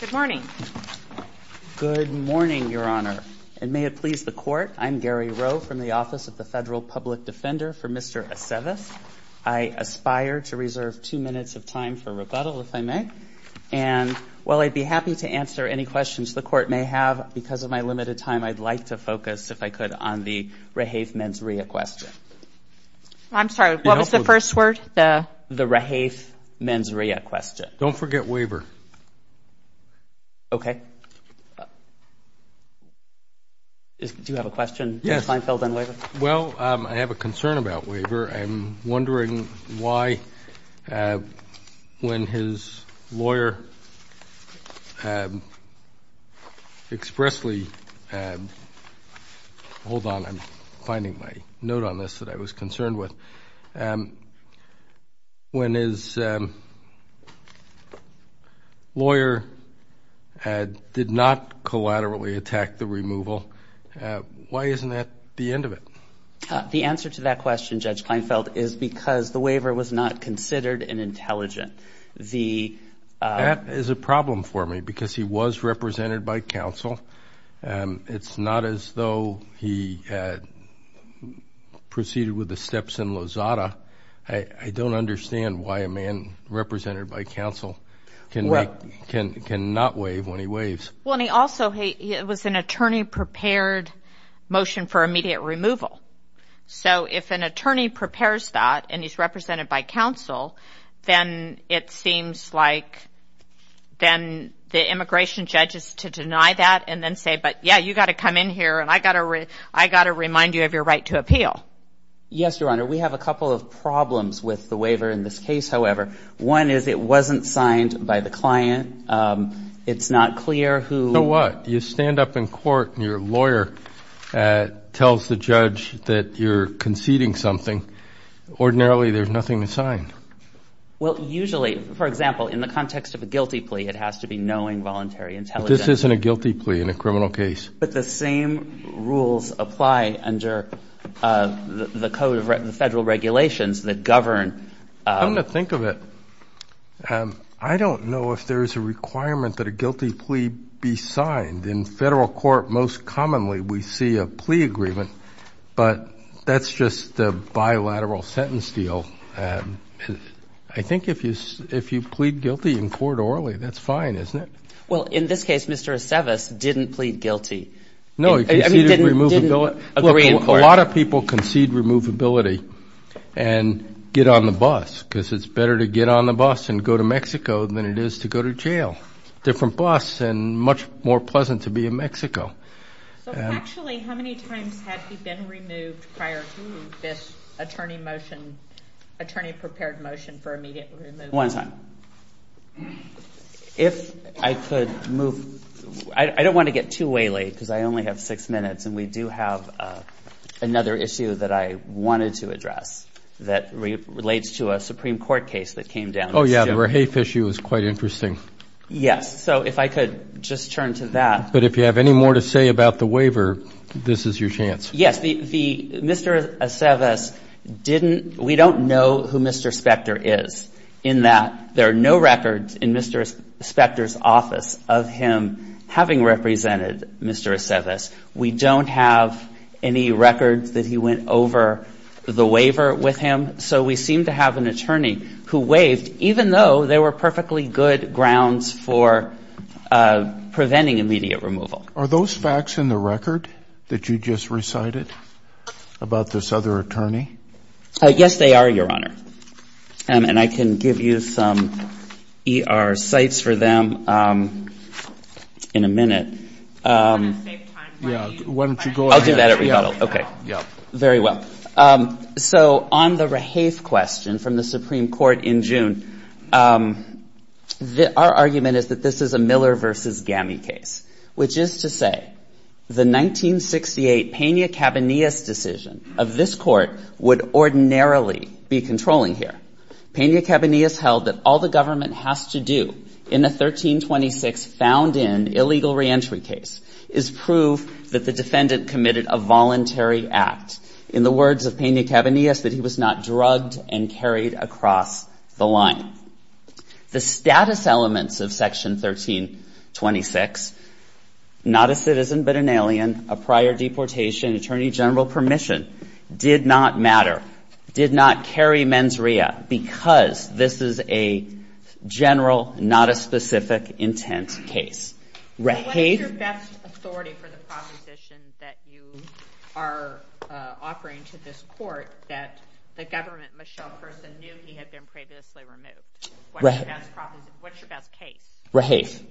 Good morning. Good morning, Your Honor. And may it please the Court, I'm Gary Rowe from the Office of the Federal Public Defender for Mr. Aceves. I aspire to reserve two minutes of time for rebuttal, if I may. And while I'd be happy to answer any questions the Court may have, because of my limited time, I'd like to focus, if I could, on the rehafe mens rea question. I'm sorry, what was the first word? The rehafe mens rea question. Don't forget waiver. Okay. Do you have a question? Yes. Well, I have a concern about waiver. I'm wondering why, when his lawyer expressly, hold on, I'm finding my note on this that I was concerned with, when his lawyer did not collaterally attack the removal, why isn't that the end of it? The answer to that question, Judge Kleinfeld, is because the waiver was not considered an intelligent. That is a problem for me, because he was represented by counsel. It's not as though he proceeded with the steps in Lozada. I don't understand why a man represented by counsel can not waive when he waives. Well, and he also, it was an attorney-prepared motion for immediate removal. So if an attorney prepares that, and he's represented by counsel, then it seems like then the immigration judge is to deny that and then say, but yeah, you've got to come in here, and I've got to remind you of your right to appeal. Yes, Your Honor. We have a couple of problems with the waiver in this case, however. One is it wasn't signed by the client. It's not clear who. So what? You stand up in court, and your lawyer tells the judge that you're conceding something. Ordinarily, there's nothing to sign. Well, usually, for example, in the context of a guilty plea, it has to be knowing, voluntary, intelligent. This isn't a guilty plea in a criminal case. But the same rules apply under the federal regulations that govern. Come to think of it, I don't know if there is a requirement that a guilty plea be signed. In federal court, most commonly, we see a plea agreement. But that's just a bilateral sentence deal. I think if you plead guilty in court orally, that's fine, isn't it? Well, in this case, Mr. Aceves didn't plead guilty. No, he conceded removability. Look, a lot of people concede removability and get on the bus, because it's better to get on the bus and go to Mexico than it is to go to jail. Different bus, and much more pleasant to be in Mexico. So actually, how many times had he been removed prior to this attorney motion, attorney-prepared motion for immediate removal? One time. If I could move — I don't want to get too waily, because I only have six minutes, and we do have another issue that I wanted to address that relates to a Supreme Court case that came down. Oh, yeah. The Rahafe issue is quite interesting. Yes. So if I could just turn to that. But if you have any more to say about the waiver, this is your chance. Yes. Mr. Aceves didn't — we don't know who Mr. Spector is, in that there are no records in Mr. Spector's office of him having represented Mr. Aceves. We don't have any records that he went over the waiver with him. So we seem to have an attorney who waived, even though there were perfectly good grounds for preventing immediate removal. Are those facts in the record that you just recited about this other attorney? Yes, they are, Your Honor. And I can give you some ER sites for them in a minute. I'm going to save time for you. Why don't you go ahead. I'll do that at rebuttal. Okay. Very well. So on the Rahafe question from the Supreme Court in June, our argument is that this is a Miller v. GAMI case, which is to say the 1968 Pena-Cabanillas decision of this court would ordinarily be controlling here. Pena-Cabanillas held that all the government has to do in a 1326 found-in illegal reentry case is prove that the defendant committed a voluntary act. In the words of Pena-Cabanillas, that he was not drugged and carried across the line. The status elements of Section 1326, not a citizen but an alien, a prior deportation, attorney general permission, did not matter, did not carry mens rea, because this is a general, not a specific intent case. What is your best authority for the proposition that you are offering to this court that the government Michelle person knew he had been previously removed? What's your best case? Rahafe.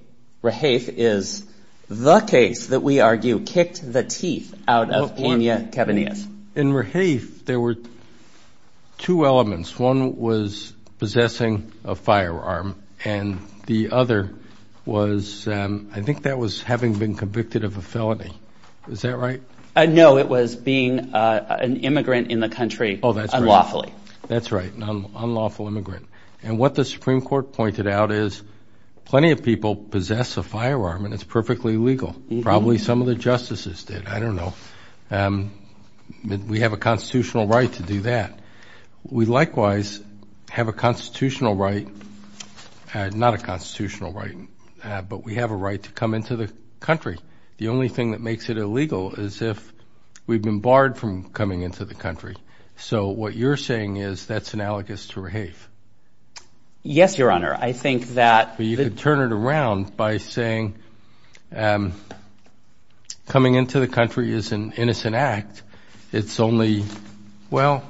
Rahafe is the case that we argue kicked the teeth out of Pena-Cabanillas. In Rahafe, there were two elements. One was possessing a firearm, and the other was, I think that was having been convicted of a felony. Is that right? No, it was being an immigrant in the country unlawfully. That's right, an unlawful immigrant. And what the Supreme Court pointed out is plenty of people possess a firearm, and it's perfectly legal. Probably some of the justices did. I don't know. We have a constitutional right to do that. We likewise have a constitutional right, not a constitutional right, but we have a right to come into the country. The only thing that makes it illegal is if we've been barred from coming into the country. So what you're saying is that's analogous to Rahafe. Yes, Your Honor. You could turn it around by saying coming into the country is an innocent act. It's only, well,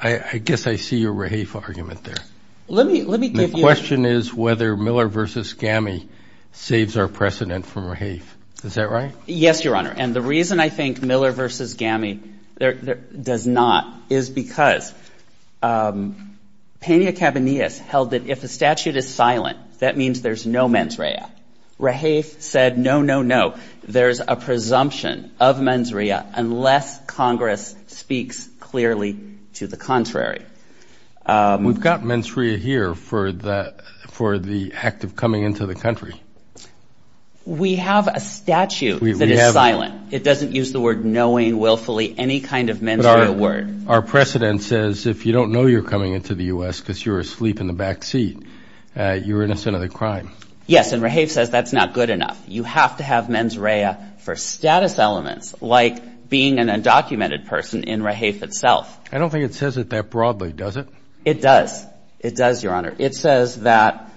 I guess I see your Rahafe argument there. The question is whether Miller v. Gami saves our precedent from Rahafe. Is that right? Yes, Your Honor, and the reason I think Miller v. Gami does not is because Pena-Cabanillas held that if a statute is silent, that means there's no mens rea. Rahafe said, no, no, no, there's a presumption of mens rea unless Congress speaks clearly to the contrary. We've got mens rea here for the act of coming into the country. We have a statute that is silent. It doesn't use the word knowing willfully any kind of mens rea word. Our precedent says if you don't know you're coming into the U.S. because you're asleep in the backseat, you're innocent of the crime. Yes, and Rahafe says that's not good enough. You have to have mens rea for status elements like being an undocumented person in Rahafe itself. I don't think it says it that broadly, does it? It does. It does, Your Honor. It says that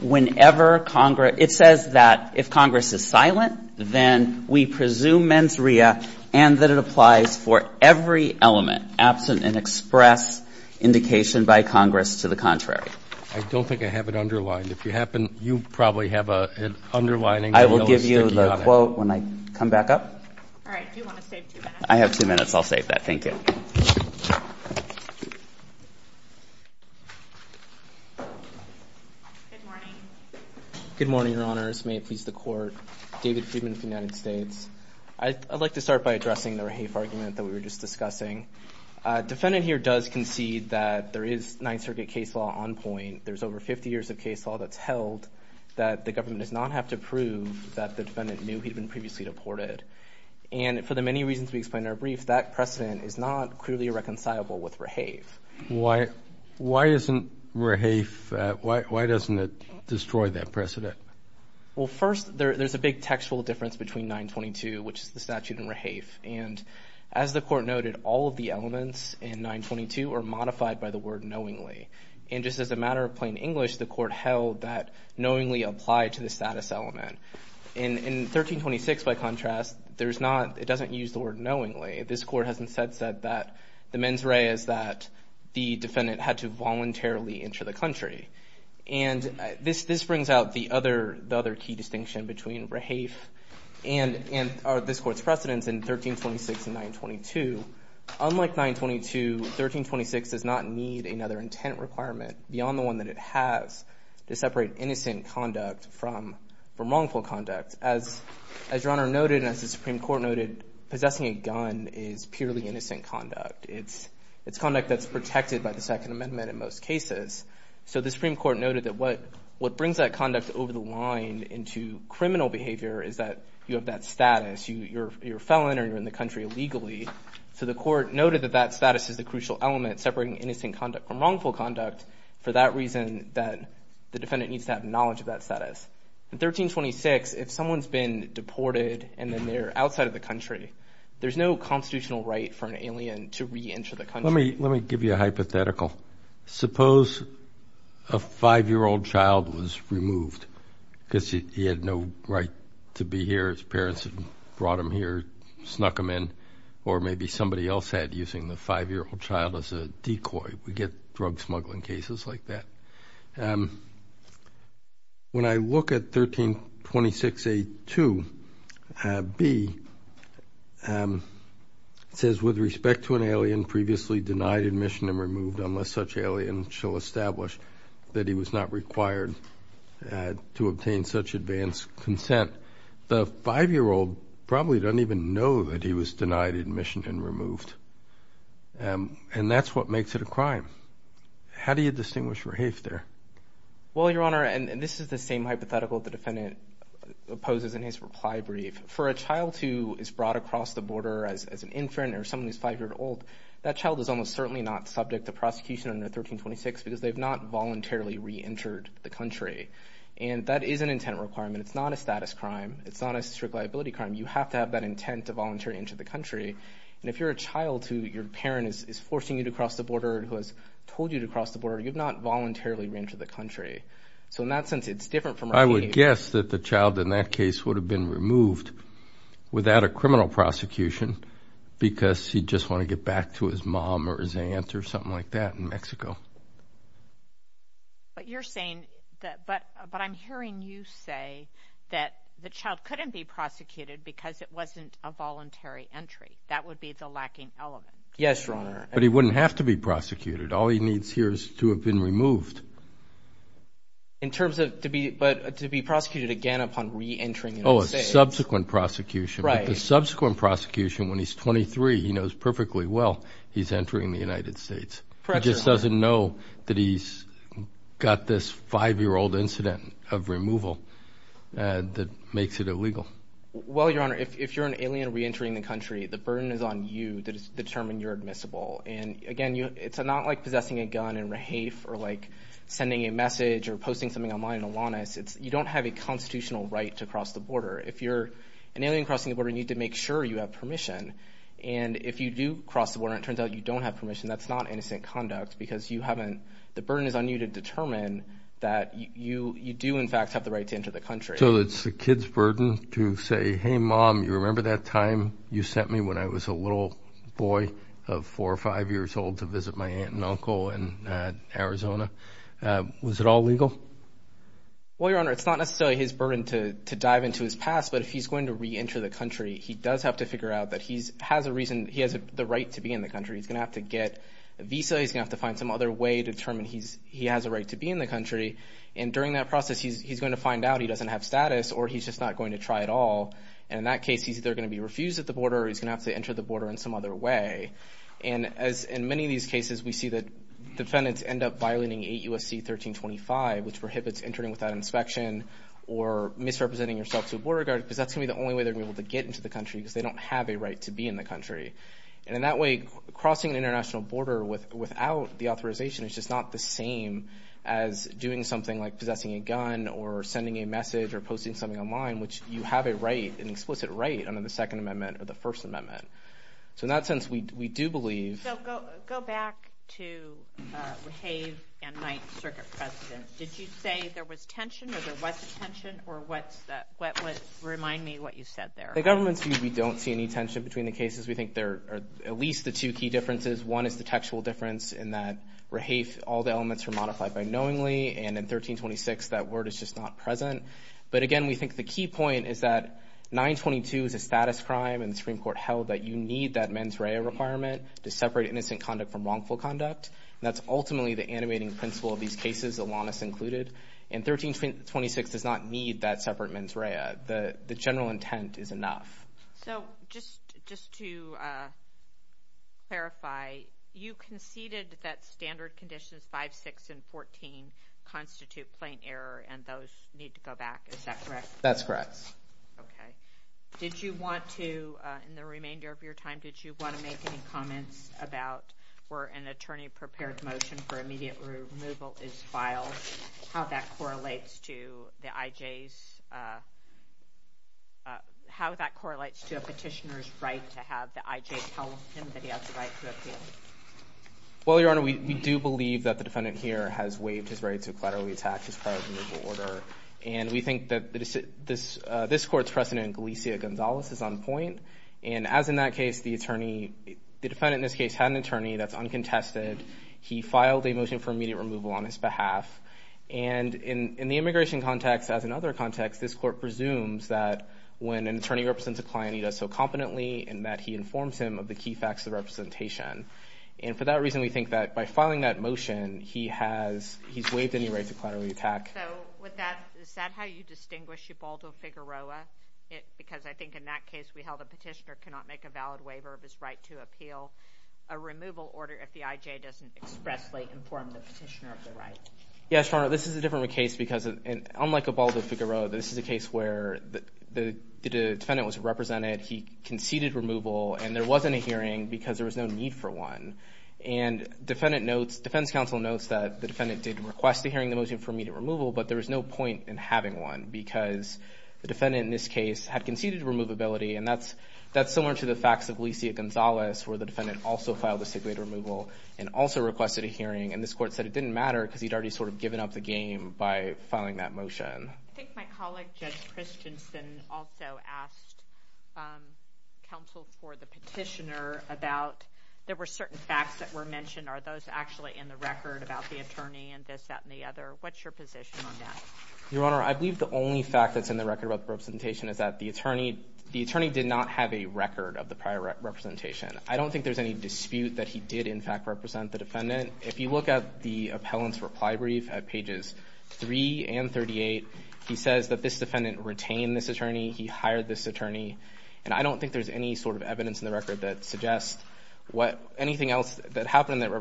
whenever Congress ‑‑ it says that if Congress is silent, then we presume mens rea, and that it applies for every element absent an express indication by Congress to the contrary. I don't think I have it underlined. If you happen ‑‑ you probably have an underlining. I will give you the quote when I come back up. All right. Do you want to save two minutes? I have two minutes. I'll save that. Thank you. Good morning. Good morning, Your Honors. May it please the Court. David Friedman of the United States. I'd like to start by addressing the Rahafe argument that we were just discussing. Defendant here does concede that there is Ninth Circuit case law on point. There's over 50 years of case law that's held that the government does not have to prove that the defendant knew he'd been previously deported. And for the many reasons we explained in our brief, that precedent is not clearly reconcilable with Rahafe. Why isn't Rahafe ‑‑ why doesn't it destroy that precedent? Well, first, there's a big textual difference between 922, which is the statute in Rahafe. And as the Court noted, all of the elements in 922 are modified by the word knowingly. And just as a matter of plain English, the Court held that knowingly applied to the status element. In 1326, by contrast, there's not ‑‑ it doesn't use the word knowingly. This Court has instead said that the mens rea is that the defendant had to voluntarily enter the country. And this brings out the other key distinction between Rahafe and this Court's precedents in 1326 and 922. Unlike 922, 1326 does not need another intent requirement beyond the one that it has to separate innocent conduct from wrongful conduct. As Your Honor noted and as the Supreme Court noted, possessing a gun is purely innocent conduct. It's conduct that's protected by the Second Amendment in most cases. So the Supreme Court noted that what brings that conduct over the line into criminal behavior is that you have that status. You're a felon or you're in the country illegally. So the Court noted that that status is the crucial element separating innocent conduct from wrongful conduct for that reason that the defendant needs to have knowledge of that status. In 1326, if someone's been deported and then they're outside of the country, there's no constitutional right for an alien to reenter the country. Let me give you a hypothetical. Suppose a 5-year-old child was removed because he had no right to be here. His parents had brought him here, snuck him in. Or maybe somebody else had using the 5-year-old child as a decoy. We get drug smuggling cases like that. When I look at 1326A2B, it says, With respect to an alien previously denied admission and removed, unless such alien shall establish that he was not required to obtain such advanced consent, the 5-year-old probably doesn't even know that he was denied admission and removed. And that's what makes it a crime. How do you distinguish re-hafe there? Well, Your Honor, and this is the same hypothetical the defendant opposes in his reply brief. For a child who is brought across the border as an infant or someone who's 5-year-old, that child is almost certainly not subject to prosecution under 1326 because they've not voluntarily reentered the country. And that is an intent requirement. It's not a status crime. It's not a strict liability crime. You have to have that intent to voluntarily enter the country. And if you're a child who your parent is forcing you to cross the border or who has told you to cross the border, you've not voluntarily reentered the country. So in that sense, it's different from re-hafe. I would guess that the child in that case would have been removed without a criminal prosecution because he'd just want to get back to his mom or his aunt or something like that in Mexico. But you're saying that, but I'm hearing you say that the child couldn't be prosecuted because it wasn't a voluntary entry. That would be the lacking element. Yes, Your Honor. But he wouldn't have to be prosecuted. All he needs here is to have been removed. In terms of to be prosecuted again upon reentering the United States. Oh, a subsequent prosecution. Right. But the subsequent prosecution when he's 23, he knows perfectly well he's entering the United States. Correct, Your Honor. He just doesn't know that he's got this 5-year-old incident of removal that makes it illegal. Well, Your Honor, if you're an alien reentering the country, the burden is on you to determine you're admissible. And again, it's not like possessing a gun in re-hafe or like sending a message or posting something online in Alanis. You don't have a constitutional right to cross the border. If you're an alien crossing the border, you need to make sure you have permission. And if you do cross the border and it turns out you don't have permission, that's not innocent conduct because the burden is on you to determine that you do, in fact, have the right to enter the country. So it's the kid's burden to say, hey, Mom, you remember that time you sent me when I was a little boy of 4 or 5 years old to visit my aunt and uncle in Arizona? Was it all legal? Well, Your Honor, it's not necessarily his burden to dive into his past, but if he's going to reenter the country, he does have to figure out that he has the right to be in the country. He's going to have to get a visa. He's going to have to find some other way to determine he has a right to be in the country. And during that process, he's going to find out he doesn't have status or he's just not going to try at all. And in that case, he's either going to be refused at the border or he's going to have to enter the border in some other way. And in many of these cases, we see that defendants end up violating 8 U.S.C. 1325, which prohibits entering without inspection or misrepresenting yourself to a border guard because that's going to be the only way they're going to be able to get into the country because they don't have a right to be in the country. And in that way, crossing an international border without the authorization is just not the same as doing something like possessing a gun or sending a message or posting something online, which you have a right, an explicit right, under the Second Amendment or the First Amendment. So in that sense, we do believe... So go back to Raheve and 9th Circuit President. Did you say there was tension or there wasn't tension, or what's that? Remind me what you said there. In the government's view, we don't see any tension between the cases. We think there are at least the two key differences. One is the textual difference in that Raheve, all the elements are modified by knowingly, and in 1326, that word is just not present. But again, we think the key point is that 922 is a status crime, and the Supreme Court held that you need that mens rea requirement to separate innocent conduct from wrongful conduct, and that's ultimately the animating principle of these cases, Alanis included. And 1326 does not need that separate mens rea. The general intent is enough. So just to clarify, you conceded that standard conditions 5, 6, and 14 constitute plain error, and those need to go back, is that correct? That's correct. Okay. Did you want to, in the remainder of your time, did you want to make any comments about where an attorney-prepared motion for immediate removal is filed, how that correlates to the IJ's, how that correlates to a petitioner's right to have the IJ tell him that he has the right to appeal? Well, Your Honor, we do believe that the defendant here has waived his right to collaterally attack his prior removal order, and we think that this Court's precedent, Galicia-Gonzalez, is on point. And as in that case, the attorney, the defendant in this case had an attorney that's uncontested. He filed a motion for immediate removal on his behalf. And in the immigration context, as in other contexts, this Court presumes that when an attorney represents a client, he does so competently, and that he informs him of the key facts of representation. And for that reason, we think that by filing that motion, he's waived any right to collaterally attack. So is that how you distinguish Ubaldo Figueroa? Because I think in that case, we held a petitioner cannot make a valid waiver of his right to appeal a removal order if the IJ doesn't expressly inform the petitioner of the right. Yes, Your Honor, this is a different case because unlike Ubaldo Figueroa, this is a case where the defendant was represented, he conceded removal, and there wasn't a hearing because there was no need for one. And defense counsel notes that the defendant did request a hearing, the motion for immediate removal, but there was no point in having one because the defendant in this case had conceded removability, and that's similar to the facts of Alicia Gonzalez, where the defendant also filed a state waiver removal and also requested a hearing, and this Court said it didn't matter because he'd already sort of given up the game by filing that motion. I think my colleague, Judge Christensen, also asked counsel for the petitioner about, there were certain facts that were mentioned. Are those actually in the record about the attorney and this, that, and the other? What's your position on that? Your Honor, I believe the only fact that's in the record about the representation is that the attorney did not have a record of the prior representation. I don't think there's any dispute that he did, in fact, represent the defendant. If you look at the appellant's reply brief at pages 3 and 38, he says that this defendant retained this attorney, he hired this attorney, and I don't think there's any sort of evidence in the record that suggests anything else that happened in that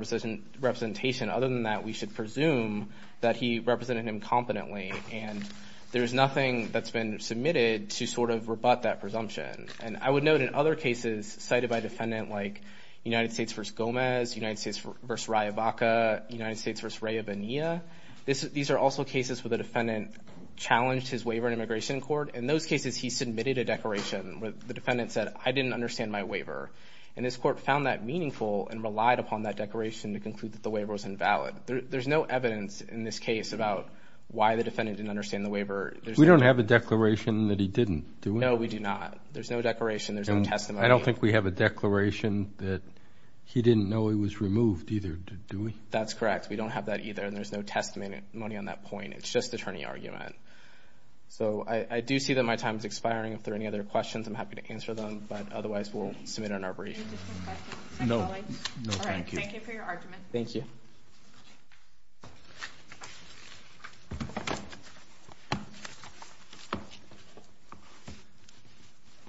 representation other than that we should presume that he represented him competently. And there's nothing that's been submitted to sort of rebut that presumption. And I would note in other cases cited by a defendant like United States v. Gomez, United States v. Raya Vaca, United States v. Raya Bonilla, these are also cases where the defendant challenged his waiver in immigration court. In those cases, he submitted a declaration where the defendant said, I didn't understand my waiver. And this Court found that meaningful and relied upon that declaration to conclude that the waiver was invalid. There's no evidence in this case about why the defendant didn't understand the waiver. We don't have a declaration that he didn't, do we? No, we do not. There's no declaration, there's no testimony. I don't think we have a declaration that he didn't know he was removed either, do we? That's correct. We don't have that either, and there's no testimony on that point. It's just attorney argument. So I do see that my time is expiring. If there are any other questions, I'm happy to answer them. Any additional questions? No. No, thank you. Thank you for your argument. Thank you.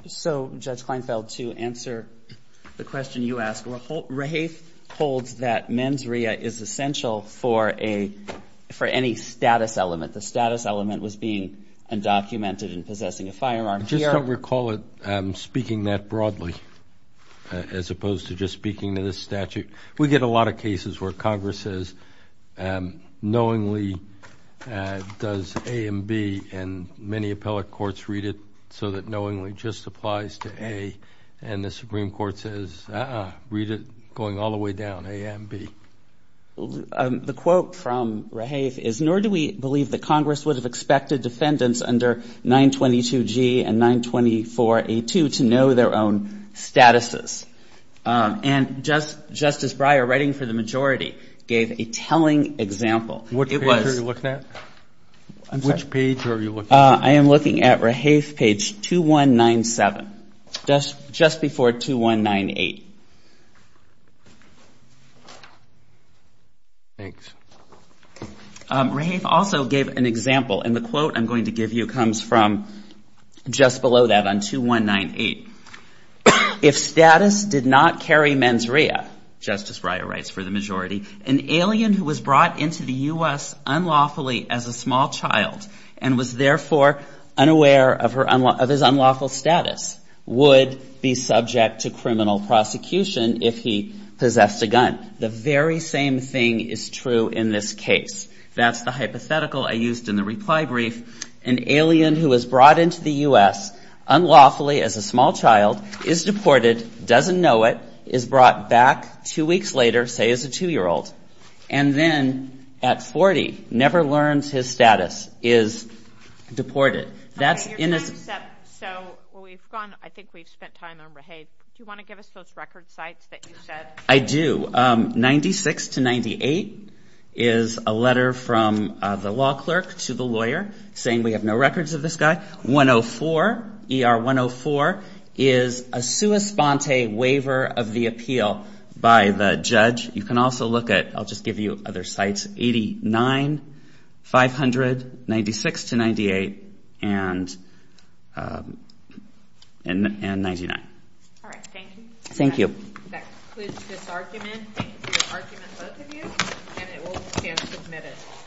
So, Judge Kleinfeld, to answer the question you asked, Rahaith holds that mens rea is essential for any status element. The status element was being undocumented and possessing a firearm. Just don't recall it speaking that broadly as opposed to just speaking to this statute. We get a lot of cases where Congress says, knowingly, does A and B, and many appellate courts read it so that knowingly just applies to A, and the Supreme Court says, uh-uh, read it going all the way down, A and B. The quote from Rahaith is, nor do we believe that Congress would have expected defendants under 922G and 924A2 to know their own statuses. And Justice Breyer, writing for the majority, gave a telling example. Which page are you looking at? I'm sorry. Which page are you looking at? I am looking at Rahaith page 2197, just before 2198. Thanks. Rahaith also gave an example, and the quote I'm going to give you comes from just below that on 2198. If status did not carry mens rea, Justice Breyer writes for the majority, an alien who was brought into the U.S. unlawfully as a small child and was therefore unaware of his unlawful status the very same thing is true in this case. That's the hypothetical I used in the reply brief. An alien who was brought into the U.S. unlawfully as a small child, is deported, doesn't know it, is brought back two weeks later, say as a two-year-old, and then at 40 never learns his status, is deported. Your time is up, so I think we've spent time on Rahaith. Do you want to give us those record sites that you said? I do. 96 to 98 is a letter from the law clerk to the lawyer saying we have no records of this guy. 104, ER 104, is a sua sponte waiver of the appeal by the judge. You can also look at, I'll just give you other sites, 89, 500, 96 to 98, and 99. All right, thank you. Thank you. That concludes this argument. Thank you for your argument, both of you, and it will stand submitted.